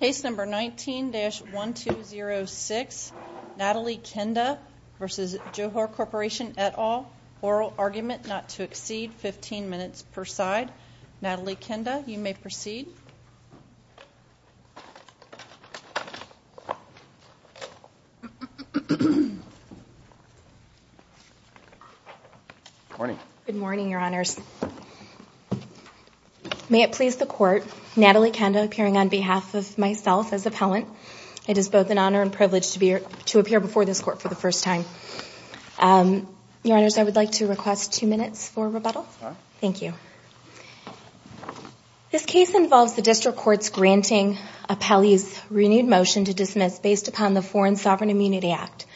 Case number 19-1206, Natalie Qandah v. Johor Corporation et al. Oral argument not to exceed 15 minutes per side. Natalie Qandah, you may proceed. Good morning. Good morning, Your Honors. May it please the Court, Natalie Qandah appearing on behalf of myself as appellant. It is both an honor and privilege to appear before this Court for the first time. Your Honors, I would like to request two minutes for rebuttal. Sure. Thank you. This case involves the District Courts granting appellees renewed motion to dismiss based upon the Foreign Sovereign Immunity Act.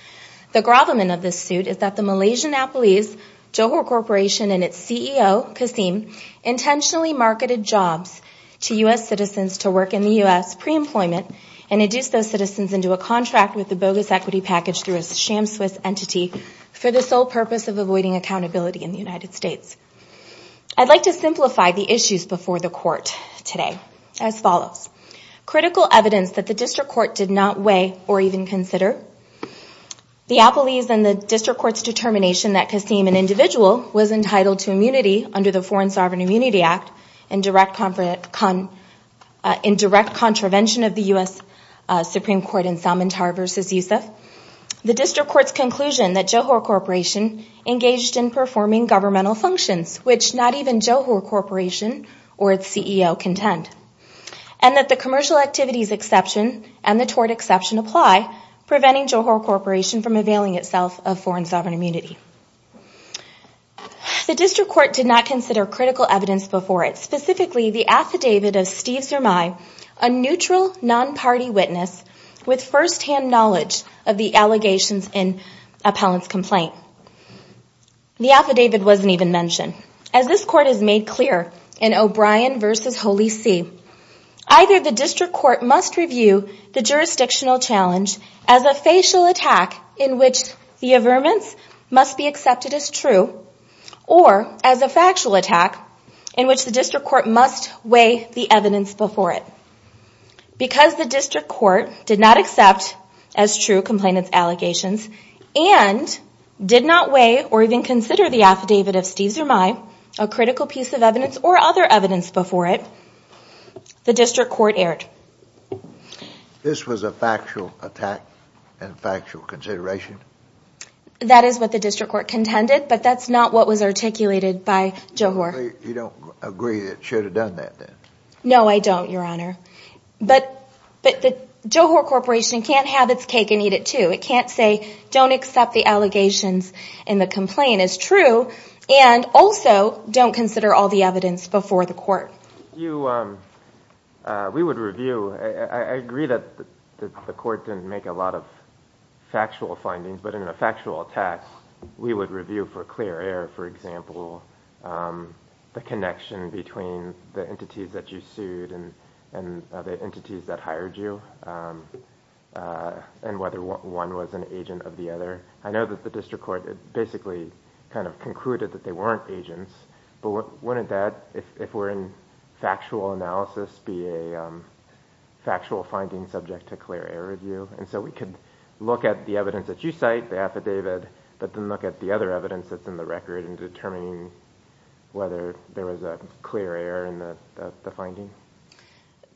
The gravamen of this suit is that the Malaysian appellees, Johor Corporation, and its CEO, Kasim, intentionally marketed jobs to U.S. citizens to work in the U.S. pre-employment and induced those citizens into a contract with the bogus equity package through a sham Swiss entity for the sole purpose of avoiding accountability in the United States. I'd like to simplify the issues before the Court today as follows. Critical evidence that the District Court did not weigh or even consider. The appellees and the District Court's determination that Kasim, an individual, was entitled to immunity under the Foreign Sovereign Immunity Act in direct contravention of the U.S. Supreme Court in Salman Tarr v. Yusuf. The District Court's conclusion that Johor Corporation engaged in performing governmental functions, which not even Johor Corporation or its CEO contend. And that the commercial activities exception and the tort exception apply, preventing Johor Corporation from availing itself of foreign sovereign immunity. The District Court did not consider critical evidence before it. Specifically, the affidavit of Steve Zermay, a neutral, non-party witness with first-hand knowledge of the allegations in appellant's complaint. The affidavit wasn't even mentioned. As this Court has made clear in O'Brien v. Holy See, either the District Court must review the jurisdictional challenge as a facial attack in which the averments must be accepted as true, or as a factual attack in which the District Court must weigh the evidence before it. Because the District Court did not accept as true complainant's allegations and did not weigh or even consider the affidavit of Steve Zermay, a critical piece of evidence or other evidence before it, the District Court erred. This was a factual attack and factual consideration? That is what the District Court contended, but that's not what was articulated by Johor. You don't agree that it should have done that then? No, I don't, Your Honor. But the Johor Corporation can't have its cake and eat it too. It can't say, don't accept the allegations in the complaint as true and also don't consider all the evidence before the Court. We would review. I agree that the Court didn't make a lot of factual findings, but in a factual attack we would review for clear error, for example, the connection between the entities that you sued and the entities that hired you and whether one was an agent of the other. I know that the District Court basically kind of concluded that they weren't agents, but wouldn't that, if we're in factual analysis, be a factual finding subject to clear error review? And so we could look at the evidence that you cite, the affidavit, but then look at the other evidence that's in the record in determining whether there was a clear error in the finding?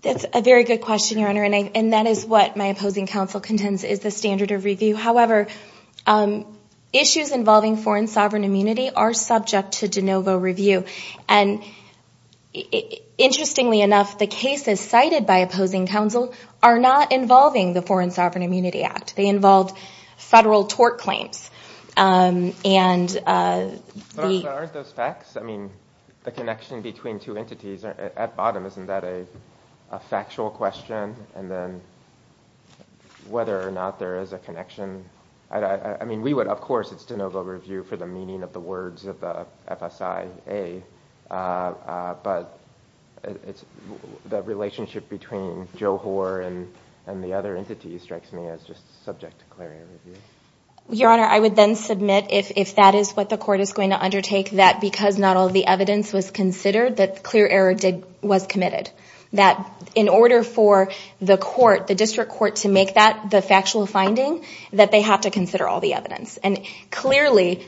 That's a very good question, Your Honor, and that is what my opposing counsel contends is the standard of review. However, issues involving foreign sovereign immunity are subject to de novo review. And interestingly enough, the cases cited by opposing counsel are not involving the Foreign Sovereign Immunity Act. They involve federal tort claims. Aren't those facts? I mean, the connection between two entities at bottom, isn't that a factual question? And then whether or not there is a connection? I mean, we would, of course, it's de novo review for the meaning of the words of the FSIA, but the relationship between Joe Hoare and the other entities strikes me as just subject to clear error review. Your Honor, I would then submit, if that is what the Court is going to undertake, that because not all the evidence was considered, that clear error was committed. That in order for the District Court to make that the factual finding, that they have to consider all the evidence. And clearly...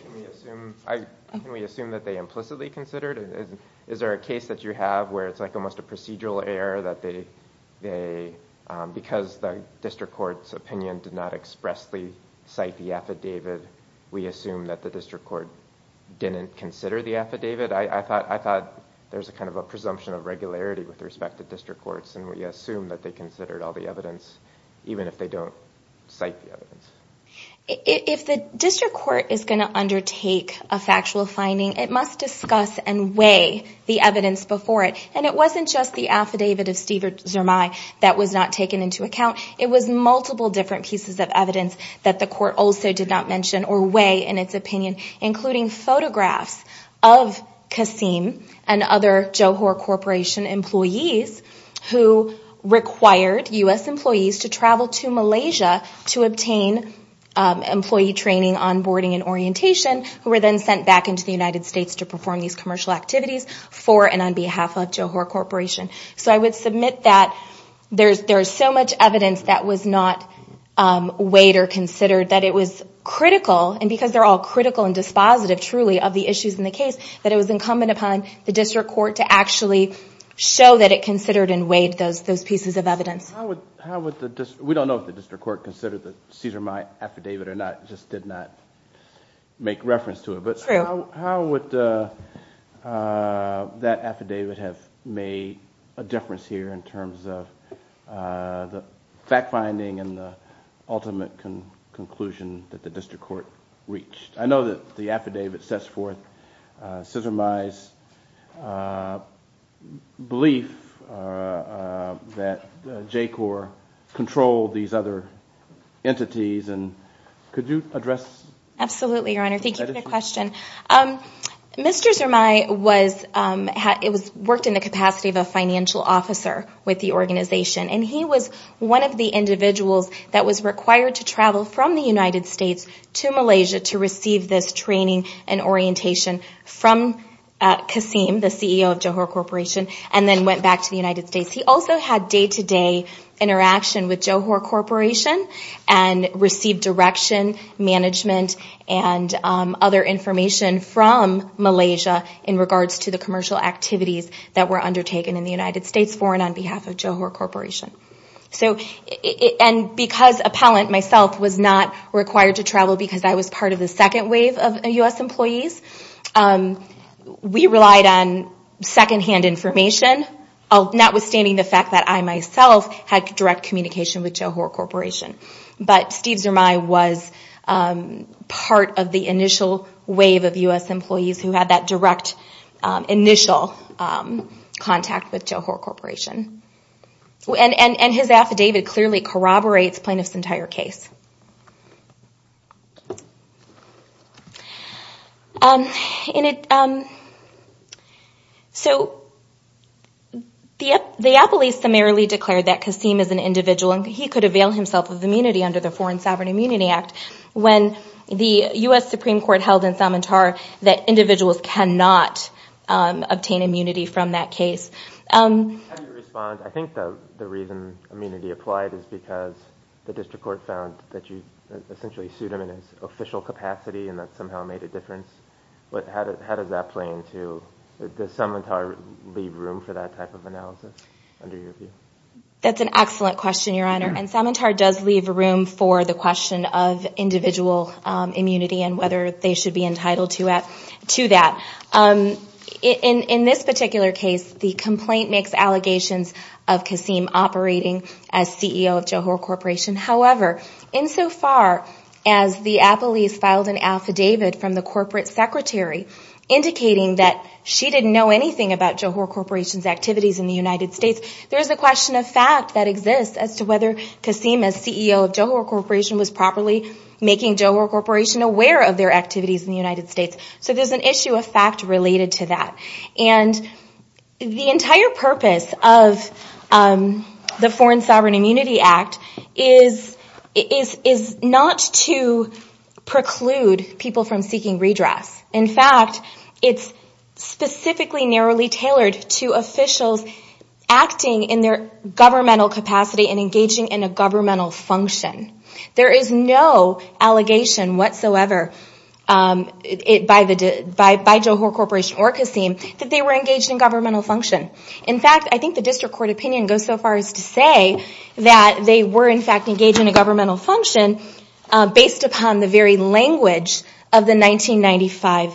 Can we assume that they implicitly considered it? Is there a case that you have where it's like almost a procedural error that they, because the District Court's opinion did not expressly cite the affidavit, we assume that the District Court didn't consider the affidavit? I thought there's kind of a presumption of regularity with respect to District Courts, and we assume that they considered all the evidence, even if they don't cite the evidence. If the District Court is going to undertake a factual finding, it must discuss and weigh the evidence before it. And it wasn't just the affidavit of Steve Zermay that was not taken into account. It was multiple different pieces of evidence that the Court also did not mention, or weigh in its opinion, including photographs of Kassim and other Johor Corporation employees who required U.S. employees to travel to Malaysia to obtain employee training on boarding and orientation, who were then sent back into the United States to perform these commercial activities for and on behalf of Johor Corporation. So I would submit that there's so much evidence that was not weighed or considered that it was critical, and because they're all critical and dispositive, truly, of the issues in the case, that it was incumbent upon the District Court to actually show that it considered and weighed those pieces of evidence. We don't know if the District Court considered the Steve Zermay affidavit or not. It just did not make reference to it. But how would that affidavit have made a difference here in terms of the fact-finding and the ultimate conclusion that the District Court reached? I know that the affidavit sets forth Steve Zermay's belief that J-Corps controlled these other entities, and could you address that? Mr. Zermay worked in the capacity of a financial officer with the organization, and he was one of the individuals that was required to travel from the United States to Malaysia to receive this training and orientation from Kasim, the CEO of Johor Corporation, and then went back to the United States. He also had day-to-day interaction with Johor Corporation and received direction, management, and other information from Malaysia in regards to the commercial activities that were undertaken in the United States for and on behalf of Johor Corporation. And because Appellant, myself, was not required to travel because I was part of the second wave of U.S. employees, we relied on second-hand information, notwithstanding the fact that I, myself, had direct communication with Johor Corporation. But Steve Zermay was part of the initial wave of U.S. employees who had that direct, initial contact with Johor Corporation. And his affidavit clearly corroborates Plaintiff's entire case. So the appellees summarily declared that Kasim is an individual and he could avail himself of immunity under the Foreign Sovereign Immunity Act when the U.S. Supreme Court held in Samantar that individuals cannot obtain immunity from that case. How do you respond? I think the reason immunity applied is because the district court found that you essentially sued him in his official capacity and that somehow made a difference. But how does that play into, does Samantar leave room for that type of analysis under your view? That's an excellent question, Your Honor. And Samantar does leave room for the question of individual immunity and whether they should be entitled to that. In this particular case, the complaint makes allegations of Kasim operating as CEO of Johor Corporation. However, insofar as the appellees filed an affidavit from the corporate secretary indicating that she didn't know anything about Johor Corporation's activities in the United States, there's a question of fact that exists as to whether Kasim as CEO of Johor Corporation was properly making Johor Corporation aware of their activities in the United States. So there's an issue of fact related to that. And the entire purpose of the Foreign Sovereign Immunity Act is not to preclude people from seeking redress. In fact, it's specifically narrowly tailored to officials acting in their governmental capacity and engaging in a governmental function. There is no allegation whatsoever by Johor Corporation or Kasim that they were engaged in governmental function. In fact, I think the district court opinion goes so far as to say that they were in fact engaged in a governmental function based upon the very language of the 1995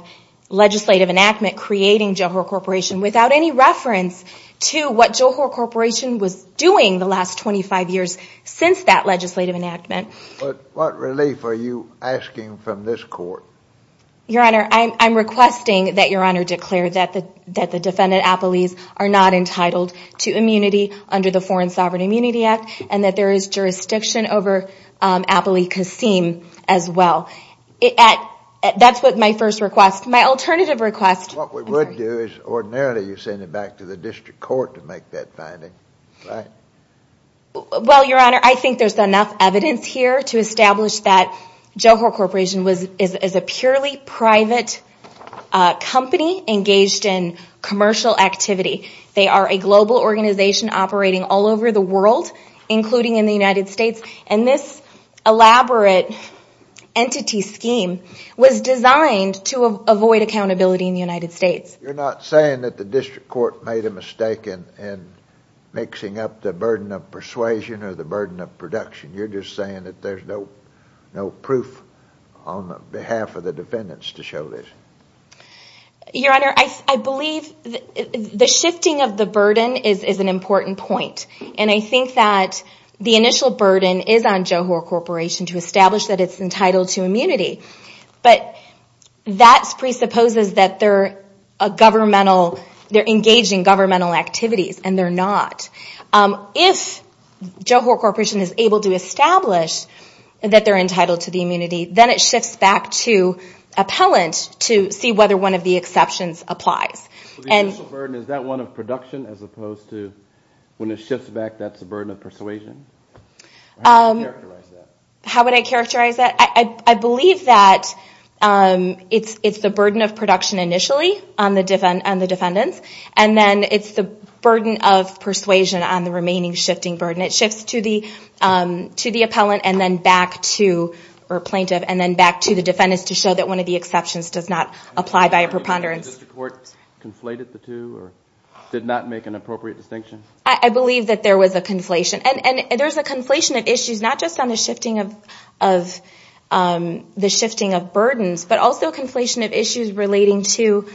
legislative enactment creating Johor Corporation without any reference to what Johor Corporation was doing the last 25 years since that legislative enactment. But what relief are you asking from this court? Your Honor, I'm requesting that Your Honor declare that the defendant appellees are not entitled to immunity under the Foreign Sovereign Immunity Act and that there is jurisdiction over Apli Kasim as well. That's what my first request. My alternative request... What we would do is ordinarily you send it back to the district court to make that finding, right? Well, Your Honor, I think there's enough evidence here to establish that Johor Corporation is a purely private company engaged in commercial activity. They are a global organization operating all over the world, including in the United States, and this elaborate entity scheme was designed to avoid accountability in the United States. You're not saying that the district court made a mistake in mixing up the burden of persuasion or the burden of production. You're just saying that there's no proof on behalf of the defendants to show this. Your Honor, I believe the shifting of the burden is an important point, and I think that the initial burden is on Johor Corporation to establish that it's entitled to immunity, but that presupposes that they're engaged in governmental activities, and they're not. If Johor Corporation is able to establish that they're entitled to the immunity, then it shifts back to appellant to see whether one of the exceptions applies. The initial burden, is that one of production as opposed to... When it shifts back, that's the burden of persuasion? How would you characterize that? How would I characterize that? I believe that it's the burden of production initially on the defendants, and then it's the burden of persuasion on the remaining shifting burden. It shifts to the plaintiff and then back to the defendants to show that one of the exceptions does not apply by a preponderance. The district court conflated the two or did not make an appropriate distinction? I believe that there was a conflation, and there's a conflation of issues not just on the shifting of burdens, but also a conflation of issues relating to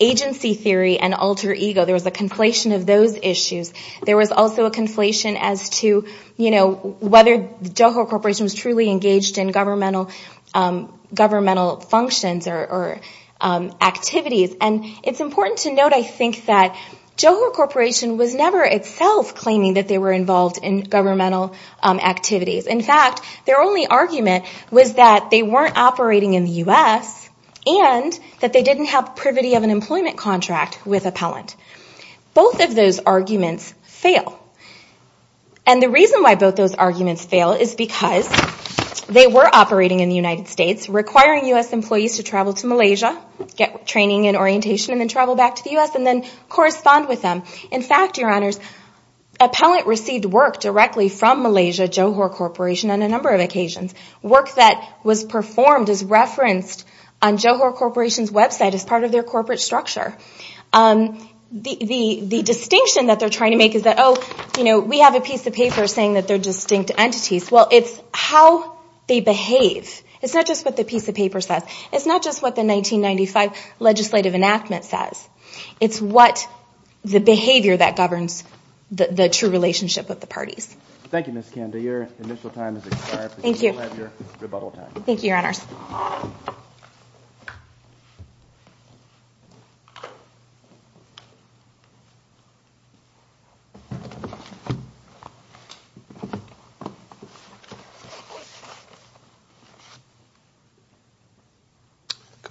agency theory and alter ego. There was a conflation of those issues. There was also a conflation as to whether Johor Corporation was truly engaged in governmental functions or activities. And it's important to note, I think, that Johor Corporation was never itself claiming that they were involved in governmental activities. In fact, their only argument was that they weren't operating in the U.S. and that they didn't have privity of an employment contract with appellant. Both of those arguments fail. And the reason why both those arguments fail is because they were operating in the United States, requiring U.S. employees to travel to Malaysia, get training and orientation and then travel back to the U.S. and then correspond with them. In fact, your honors, appellant received work directly from Malaysia, Johor Corporation, on a number of occasions. Work that was performed is referenced on Johor Corporation's website as part of their corporate structure. The distinction that they're trying to make is that, oh, we have a piece of paper saying that they're distinct entities. Well, it's how they behave. It's not just what the piece of paper says. It's not just what the 1995 legislative enactment says. It's what the behavior that governs the true relationship with the parties. Thank you, Ms. Kanda. Your initial time has expired. Thank you. You have your rebuttal time. Thank you, your honors. Good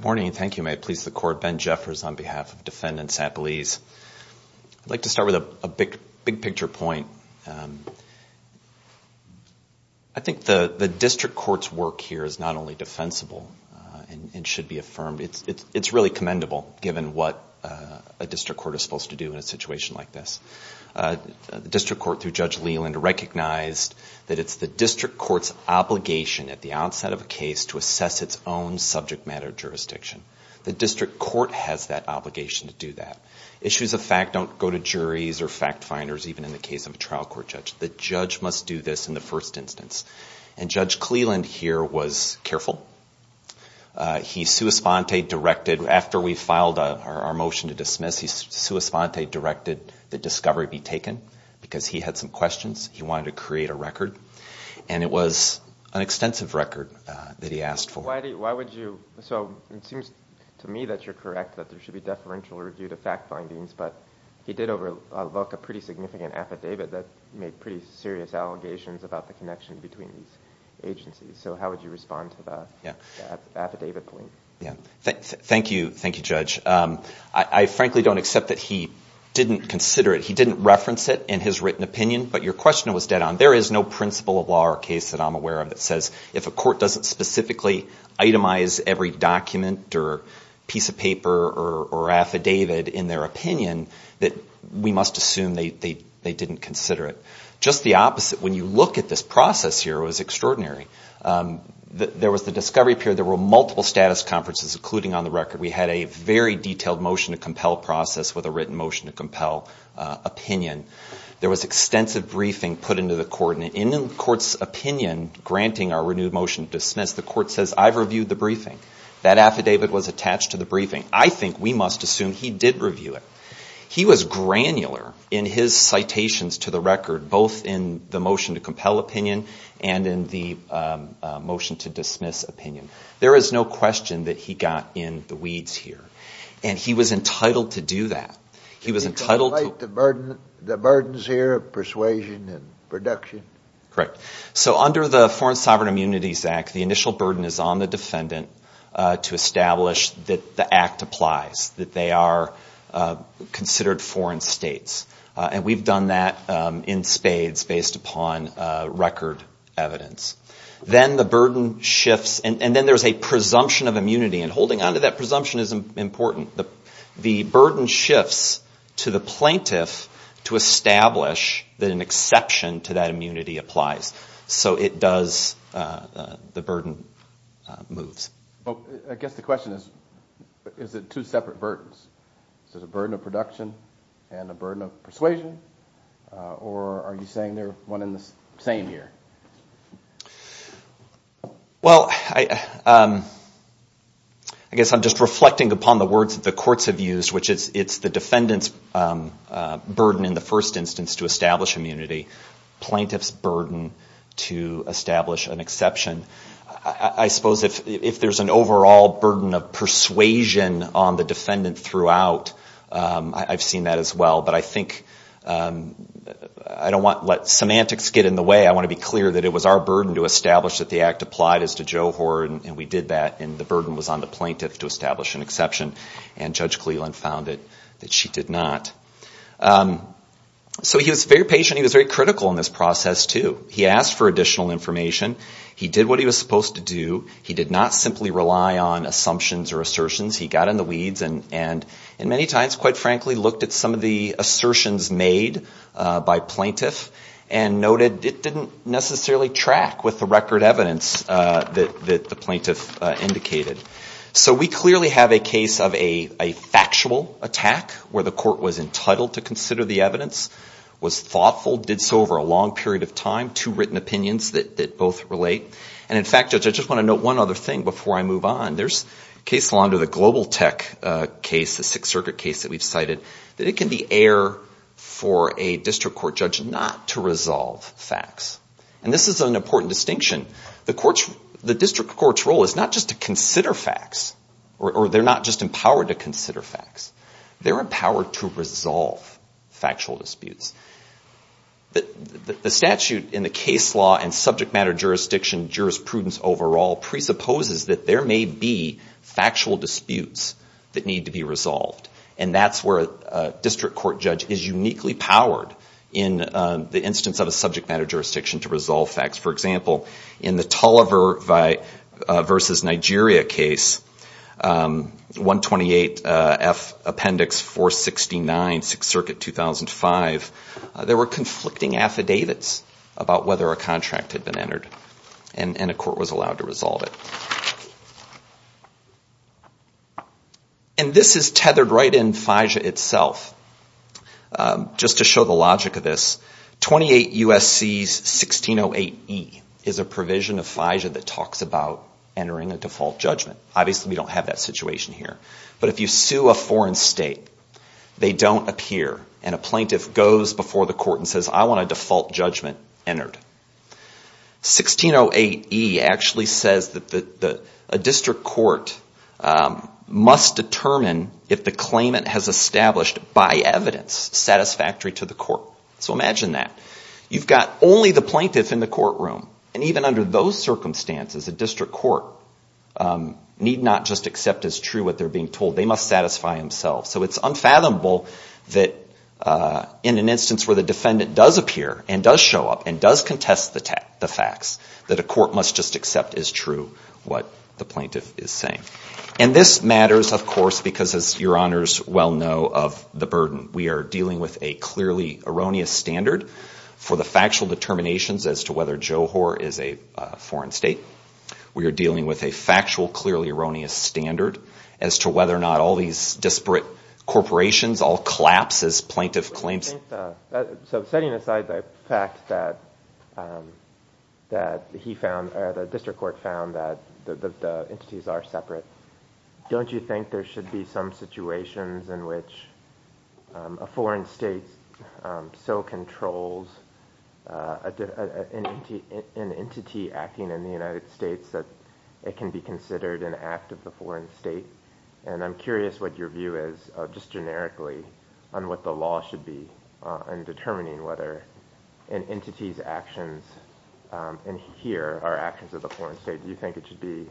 morning and thank you. May it please the court. Ben Jeffers on behalf of Defendant Sapolis. I'd like to start with a big-picture point. I think the district court's work here is not only defensible and should be affirmed. It's really commendable, given what a district court is supposed to do in a situation like this. The district court, through Judge Leland, recognized that it's the district court's obligation at the outset of a case to assess its own subject matter jurisdiction. The district court has that obligation to do that. Issues of fact don't go to juries or fact finders, even in the case of a trial court judge. The judge must do this in the first instance. And Judge Cleland here was careful. He sua sponte directed, after we filed our motion to dismiss, he sua sponte directed that discovery be taken because he had some questions. He wanted to create a record. And it was an extensive record that he asked for. So it seems to me that you're correct, that there should be deferential review to fact findings, but he did overlook a pretty significant affidavit that made pretty serious allegations about the connection between these agencies. So how would you respond to that affidavit, please? Thank you, Judge. I frankly don't accept that he didn't consider it. He didn't reference it in his written opinion, but your question was dead on. There is no principle of law or case that I'm aware of that says if a court doesn't specifically itemize every document or piece of paper or affidavit in their opinion, that we must assume they didn't consider it. Just the opposite. When you look at this process here, it was extraordinary. There was the discovery period. There were multiple status conferences, including on the record. We had a very detailed motion to compel process with a written motion to compel opinion. There was extensive briefing put into the court, and in the court's opinion, granting our renewed motion to dismiss, the court says, I've reviewed the briefing. That affidavit was attached to the briefing. I think we must assume he did review it. He was granular in his citations to the record, both in the motion to compel opinion and in the motion to dismiss opinion. There is no question that he got in the weeds here, and he was entitled to do that. He was entitled to The burdens here of persuasion and production? Correct. So under the Foreign Sovereign Immunities Act, the initial burden is on the defendant to establish that the act applies, that they are considered foreign states, and we've done that in spades based upon record evidence. Then the burden shifts, and then there's a presumption of immunity, and holding onto that presumption is important. The burden shifts to the plaintiff to establish that an exception to that immunity applies. So it does, the burden moves. I guess the question is, is it two separate burdens? Is it a burden of production and a burden of persuasion, or are you saying they're one and the same here? Well, I guess I'm just reflecting upon the words that the courts have used, which is it's the defendant's burden in the first instance to establish immunity, plaintiff's burden to establish an exception. I suppose if there's an overall burden of persuasion on the defendant throughout, I've seen that as well. But I think I don't want to let semantics get in the way. I want to be clear that it was our burden to establish that the act applied as to Joe Hoard, and we did that, and the burden was on the plaintiff to establish an exception. And Judge Cleland found that she did not. So he was very patient. He was very critical in this process, too. He asked for additional information. He did what he was supposed to do. He did not simply rely on assumptions or assertions. He got in the weeds and many times, quite frankly, looked at some of the assertions made by plaintiff and noted it didn't necessarily track with the record evidence that the plaintiff indicated. So we clearly have a case of a factual attack where the court was entitled to consider the evidence, was thoughtful, did so over a long period of time, two written opinions that both relate. And, in fact, Judge, I just want to note one other thing before I move on. There's case law under the Global Tech case, the Sixth Circuit case that we've cited, that it can be air for a district court judge not to resolve facts. And this is an important distinction. The district court's role is not just to consider facts, or they're not just empowered to consider facts. They're empowered to resolve factual disputes. The statute in the case law and subject matter jurisdiction jurisprudence overall presupposes that there may be factual disputes that need to be resolved. And that's where a district court judge is uniquely powered in the instance of a subject matter jurisdiction to resolve facts. For example, in the Tulliver v. Nigeria case, 128F Appendix 469, Sixth Circuit, 2005, there were conflicting affidavits about whether a contract had been entered. And a court was allowed to resolve it. And this is tethered right in FIJA itself. Just to show the logic of this, 28 U.S.C. 1608E is a provision of FIJA that talks about entering a default judgment. Obviously, we don't have that situation here. But if you sue a foreign state, they don't appear. And a plaintiff goes before the court and says, I want a default judgment entered. 1608E actually says that a district court must determine if the claimant has established, by evidence, satisfactory to the court. So imagine that. You've got only the plaintiff in the courtroom. And even under those circumstances, a district court need not just accept as true what they're being told. They must satisfy themselves. So it's unfathomable that in an instance where the defendant does appear and does show up and does contest the facts, that a court must just accept as true what the plaintiff is saying. And this matters, of course, because, as your honors well know, of the burden. We are dealing with a clearly erroneous standard for the factual determinations as to whether Johor is a foreign state. We are dealing with a factual, clearly erroneous standard as to whether or not all these disparate corporations all collapse as plaintiff claims. So setting aside the fact that the district court found that the entities are separate, don't you think there should be some situations in which a foreign state so controls an entity acting in the United States that it can be considered an act of the foreign state? And I'm curious what your view is, just generically, on what the law should be in determining whether an entity's actions in here are actions of the foreign state. Do you think it should be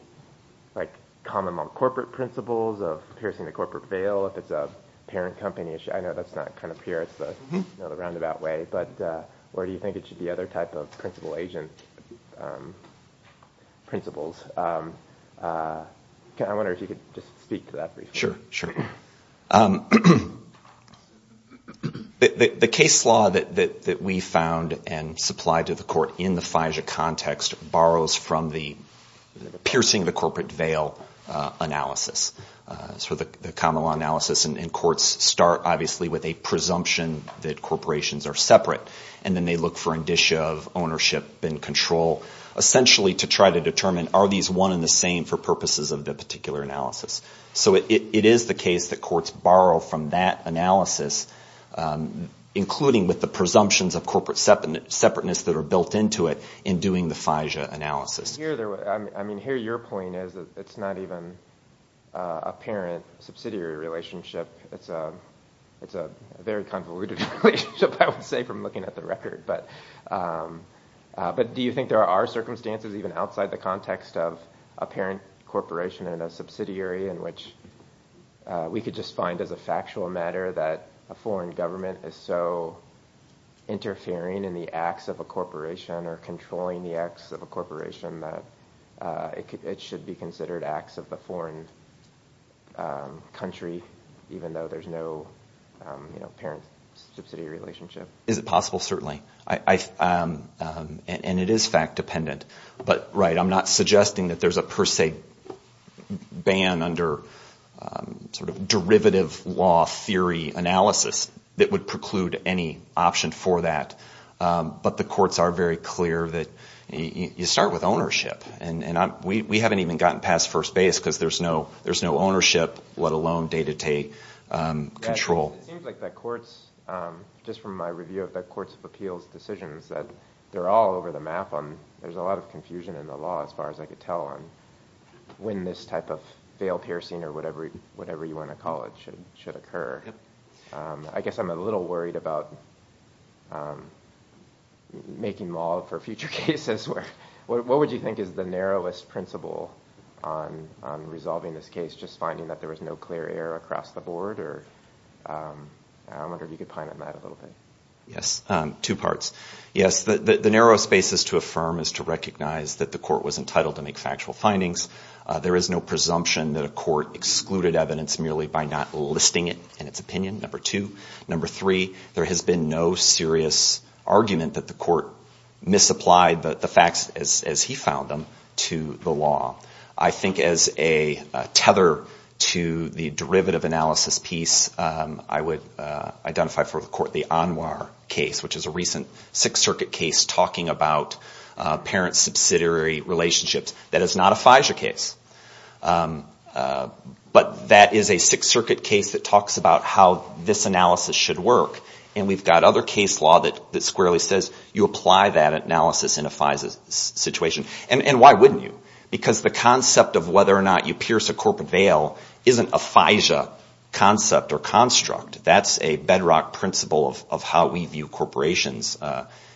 like common corporate principles of piercing the corporate veil? If it's a parent company issue, I know that's not kind of here, it's the roundabout way, but where do you think it should be other type of principal agent principles? I wonder if you could just speak to that briefly. Sure, sure. The case law that we found and supplied to the court in the FIJA context borrows from the piercing the corporate veil analysis. So the common law analysis in courts start, obviously, with a presumption that corporations are separate, and then they look for indicia of ownership and control, essentially to try to determine are these one and the same for purposes of the particular analysis. So it is the case that courts borrow from that analysis, including with the presumptions of corporate separateness that are built into it in doing the FIJA analysis. I mean here your point is that it's not even a parent subsidiary relationship. It's a very convoluted relationship, I would say, from looking at the record. But do you think there are circumstances even outside the context of a parent corporation and a subsidiary in which we could just find as a factual matter that a foreign government is so interfering in the acts of a corporation or controlling the acts of a corporation that it should be considered acts of the foreign country, even though there's no parent-subsidiary relationship? Is it possible? Certainly. And it is fact-dependent. But, right, I'm not suggesting that there's a per se ban under derivative law theory analysis that would preclude any option for that. But the courts are very clear that you start with ownership. And we haven't even gotten past first base because there's no ownership, let alone day-to-day control. It seems like the courts, just from my review of the courts of appeals decisions, that they're all over the map. There's a lot of confusion in the law as far as I could tell on when this type of fail-piercing or whatever you want to call it should occur. I guess I'm a little worried about making law for future cases. What would you think is the narrowest principle on resolving this case, just finding that there was no clear error across the board? I wonder if you could pine on that a little bit. Yes, two parts. Yes, the narrowest basis to affirm is to recognize that the court was entitled to make factual findings. There is no presumption that a court excluded evidence merely by not listing it in its opinion, number two. Number three, there has been no serious argument that the court misapplied the facts as he found them to the law. I think as a tether to the derivative analysis piece, I would identify for the court the Anwar case, which is a recent Sixth Circuit case talking about parent-subsidiary relationships. That is not a FISA case. But that is a Sixth Circuit case that talks about how this analysis should work. And we've got other case law that squarely says you apply that analysis in a FISA situation. And why wouldn't you? Because the concept of whether or not you pierce a corporate veil isn't a FISA concept or construct. That's a bedrock principle of how we view corporations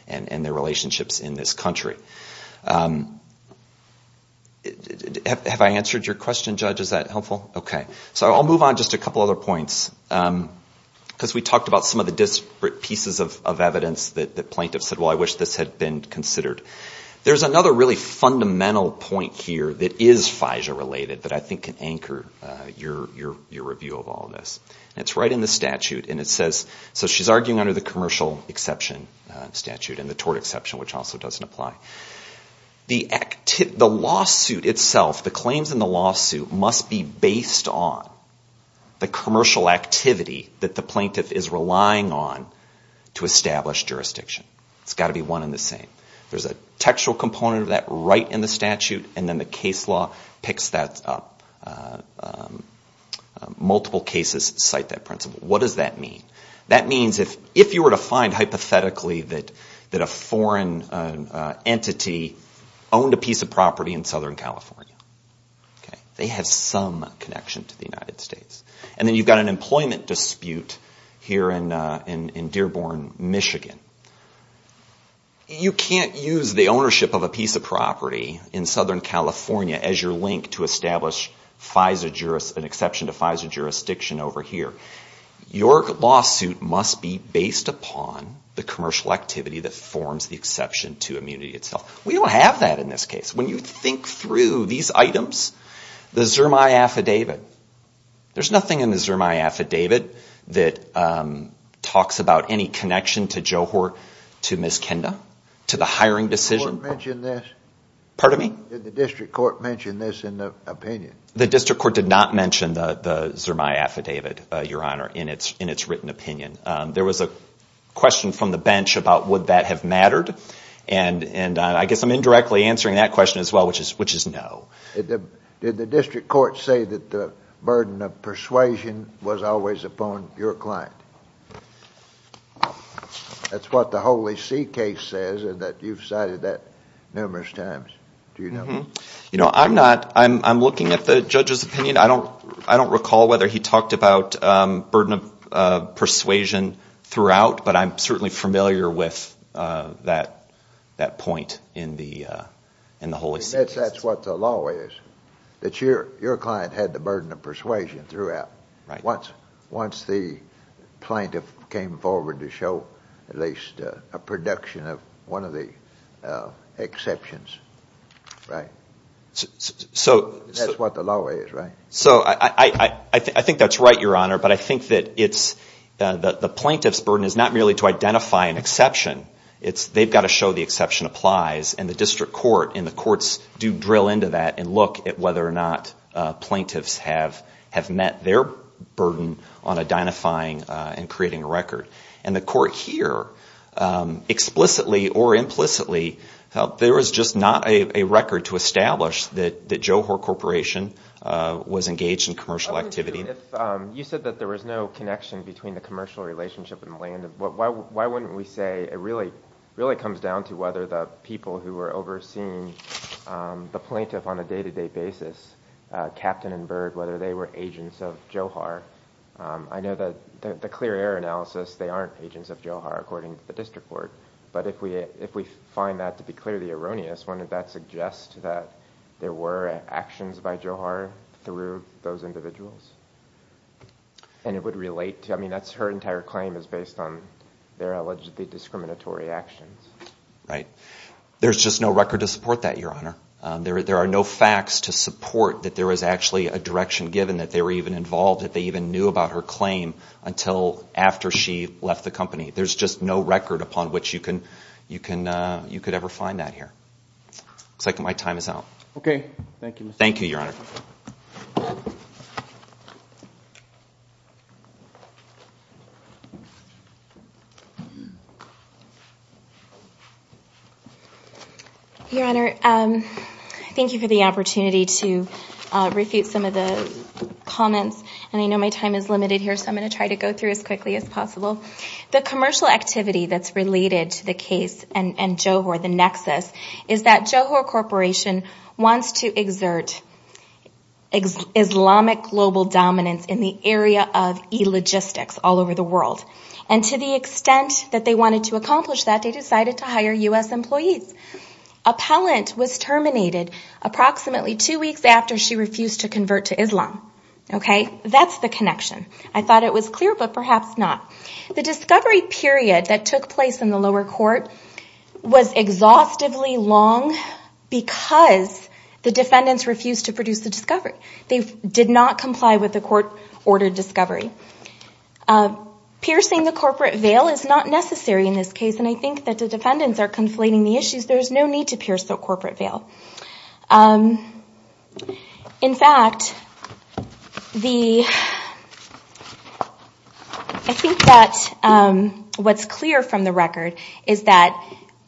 and their relationships in this country. Have I answered your question, Judge? Is that helpful? Okay. So I'll move on to just a couple other points. Because we talked about some of the disparate pieces of evidence that plaintiffs said, well, I wish this had been considered. There's another really fundamental point here that is FISA-related that I think can anchor your review of all of this. And it's right in the statute. So she's arguing under the commercial exception statute and the tort exception, which also doesn't apply. The lawsuit itself, the claims in the lawsuit, must be based on the commercial activity that the plaintiff is relying on to establish jurisdiction. It's got to be one and the same. There's a textual component of that right in the statute. And then the case law picks that up. Multiple cases cite that principle. What does that mean? That means if you were to find hypothetically that a foreign entity owned a piece of property in Southern California, they have some connection to the United States. And then you've got an employment dispute here in Dearborn, Michigan. You can't use the ownership of a piece of property in Southern California as your link to establish an exception to FISA jurisdiction over here. Your lawsuit must be based upon the commercial activity that forms the exception to immunity itself. We don't have that in this case. When you think through these items, the Zermai affidavit, there's nothing in the Zermai affidavit that talks about any connection to Miss Kenda, to the hiring decision. Did the district court mention this in the opinion? The district court did not mention the Zermai affidavit, Your Honor, in its written opinion. There was a question from the bench about would that have mattered. And I guess I'm indirectly answering that question as well, which is no. Did the district court say that the burden of persuasion was always upon your client? That's what the Holy See case says and that you've cited that numerous times. You know, I'm not, I'm looking at the judge's opinion. I don't recall whether he talked about burden of persuasion throughout, but I'm certainly familiar with that point in the Holy See case. That's what the law is, that your client had the burden of persuasion throughout. Once the plaintiff came forward to show at least a production of one of the exceptions to FISA jurisdiction. Right. That's what the law is, right? So I think that's right, Your Honor, but I think that the plaintiff's burden is not merely to identify an exception. They've got to show the exception applies and the district court and the courts do drill into that and look at whether or not plaintiffs have met their burden on identifying and creating a record. And the court here explicitly or implicitly felt there was just not a record to establish that Johor Corporation was engaged in commercial activity. You said that there was no connection between the commercial relationship and the land. Why wouldn't we say it really comes down to whether the people who were overseeing the plaintiff on a day-to-day basis, Captain and Bird, whether they were agents of Johor. I know that the clear error analysis, they aren't agents of Johor, according to the district court. But if we find that to be clearly erroneous, wouldn't that suggest that there were actions by Johor through those individuals? And it would relate to, I mean, that's her entire claim is based on their allegedly discriminatory actions. Right. There's just no record to support that, Your Honor. There are no facts to support that there was actually a direction given that they were even involved, that they even knew about her claim until after she left the company. There's just no record upon which you could ever find that here. Looks like my time is out. Thank you, Your Honor. Your Honor, thank you for the opportunity to refute some of the comments. And I know my time is limited here, so I'm going to try to go through as quickly as possible. The commercial activity that's related to the case and Johor, the nexus, is that Johor Corporation wants to exert Islamic global dominance in the area of e-logistics all over the world. And to the extent that they wanted to accomplish that, they decided to hire U.S. employees. Appellant was terminated approximately two weeks after she refused to convert to Islam. That's the connection. I thought it was clear, but perhaps not. The discovery period that took place in the lower court was exhaustively long because the defendants refused to produce the discovery. They did not comply with the court-ordered discovery. Piercing the corporate veil is not necessary in this case, and I think that the defendants are conflating the issues. There's no need to pierce the corporate veil. In fact, I think that what's clear from the record is that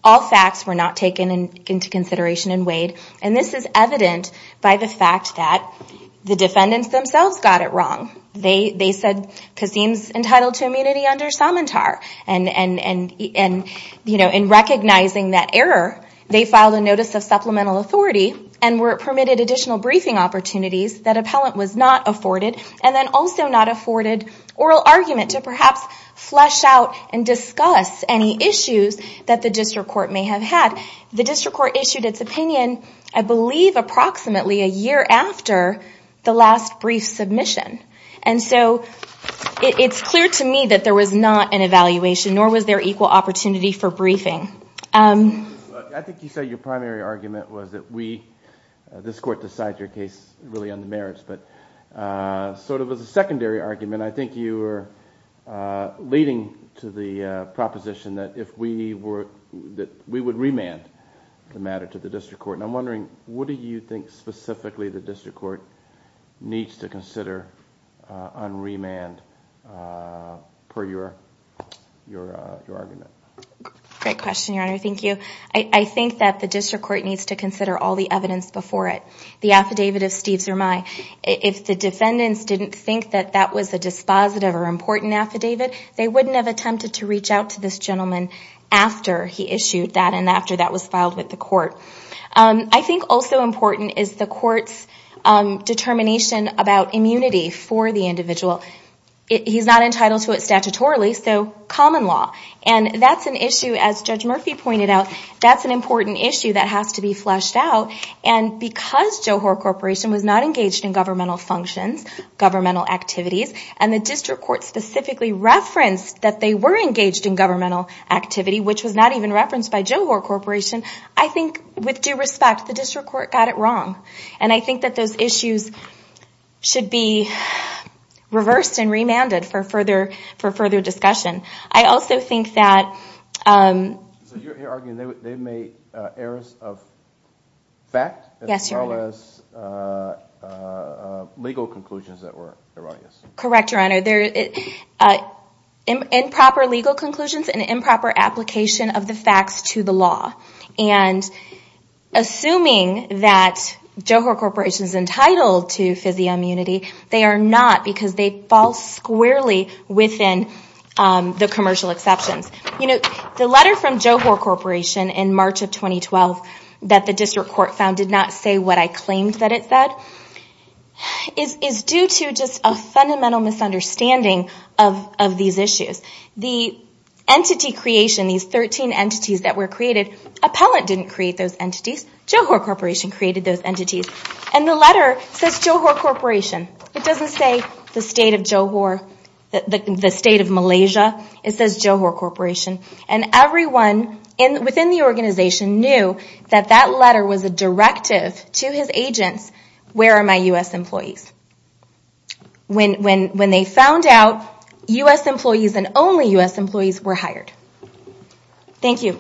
all facts were not taken into consideration and weighed. And this is evident by the fact that the defendants themselves got it wrong. They said Kazeem's entitled to immunity under Samantar. And in recognizing that error, they filed a notice of supplemental authority and were permitted additional briefing opportunities that appellant was not afforded, and then also not afforded oral argument to perhaps flesh out and discuss any issues that the district court may have had. The district court issued its opinion, I believe approximately a year after the last brief submission. And so it's clear to me that there was not an evaluation, nor was there equal opportunity for briefing. I think you said your primary argument was that we, this court decides your case really on the merits, but sort of as a secondary argument, I think you were leading to the proposition that if we were, that we would remand the matter to the district court. And I'm wondering, what do you think specifically the district court needs to consider on remand per your argument? Great question, Your Honor. Thank you. I think that the district court needs to consider all the evidence before it. The affidavit of Steve Zermay. If the defendants didn't think that that was a dispositive or important affidavit, they wouldn't have attempted to reach out to this gentleman after he issued that and after that was filed with the court. I think also important is the court's determination about immunity for the individual. He's not entitled to it statutorily, so common law. And that's an issue, as Judge Murphy pointed out, that's an important issue that has to be fleshed out. And because Johor Corporation was not engaged in governmental functions, governmental activities, and the district court specifically referenced that they were engaged in governmental activities, which was not even referenced by Johor Corporation, I think with due respect, the district court got it wrong. And I think that those issues should be reversed and remanded for further discussion. I also think that... Yes, Your Honor. Correct, Your Honor. Improper legal conclusions and improper application of the facts to the law. And assuming that Johor Corporation is entitled to FISIA immunity, they are not, because they fall squarely within the commercial exceptions. The letter from Johor Corporation in March of 2012 that the district court found did not say what I claimed that it said, is due to just a fundamental misunderstanding of these issues. The entity creation, these 13 entities that were created, Appellant didn't create those entities, Johor Corporation created those entities. And the letter says Johor Corporation. It doesn't say the state of Johor, the state of Malaysia, it says Johor Corporation. And everyone within the organization knew that that letter was a directive to his agents, where are my U.S. employees? When they found out, U.S. employees and only U.S. employees were hired. Thank you.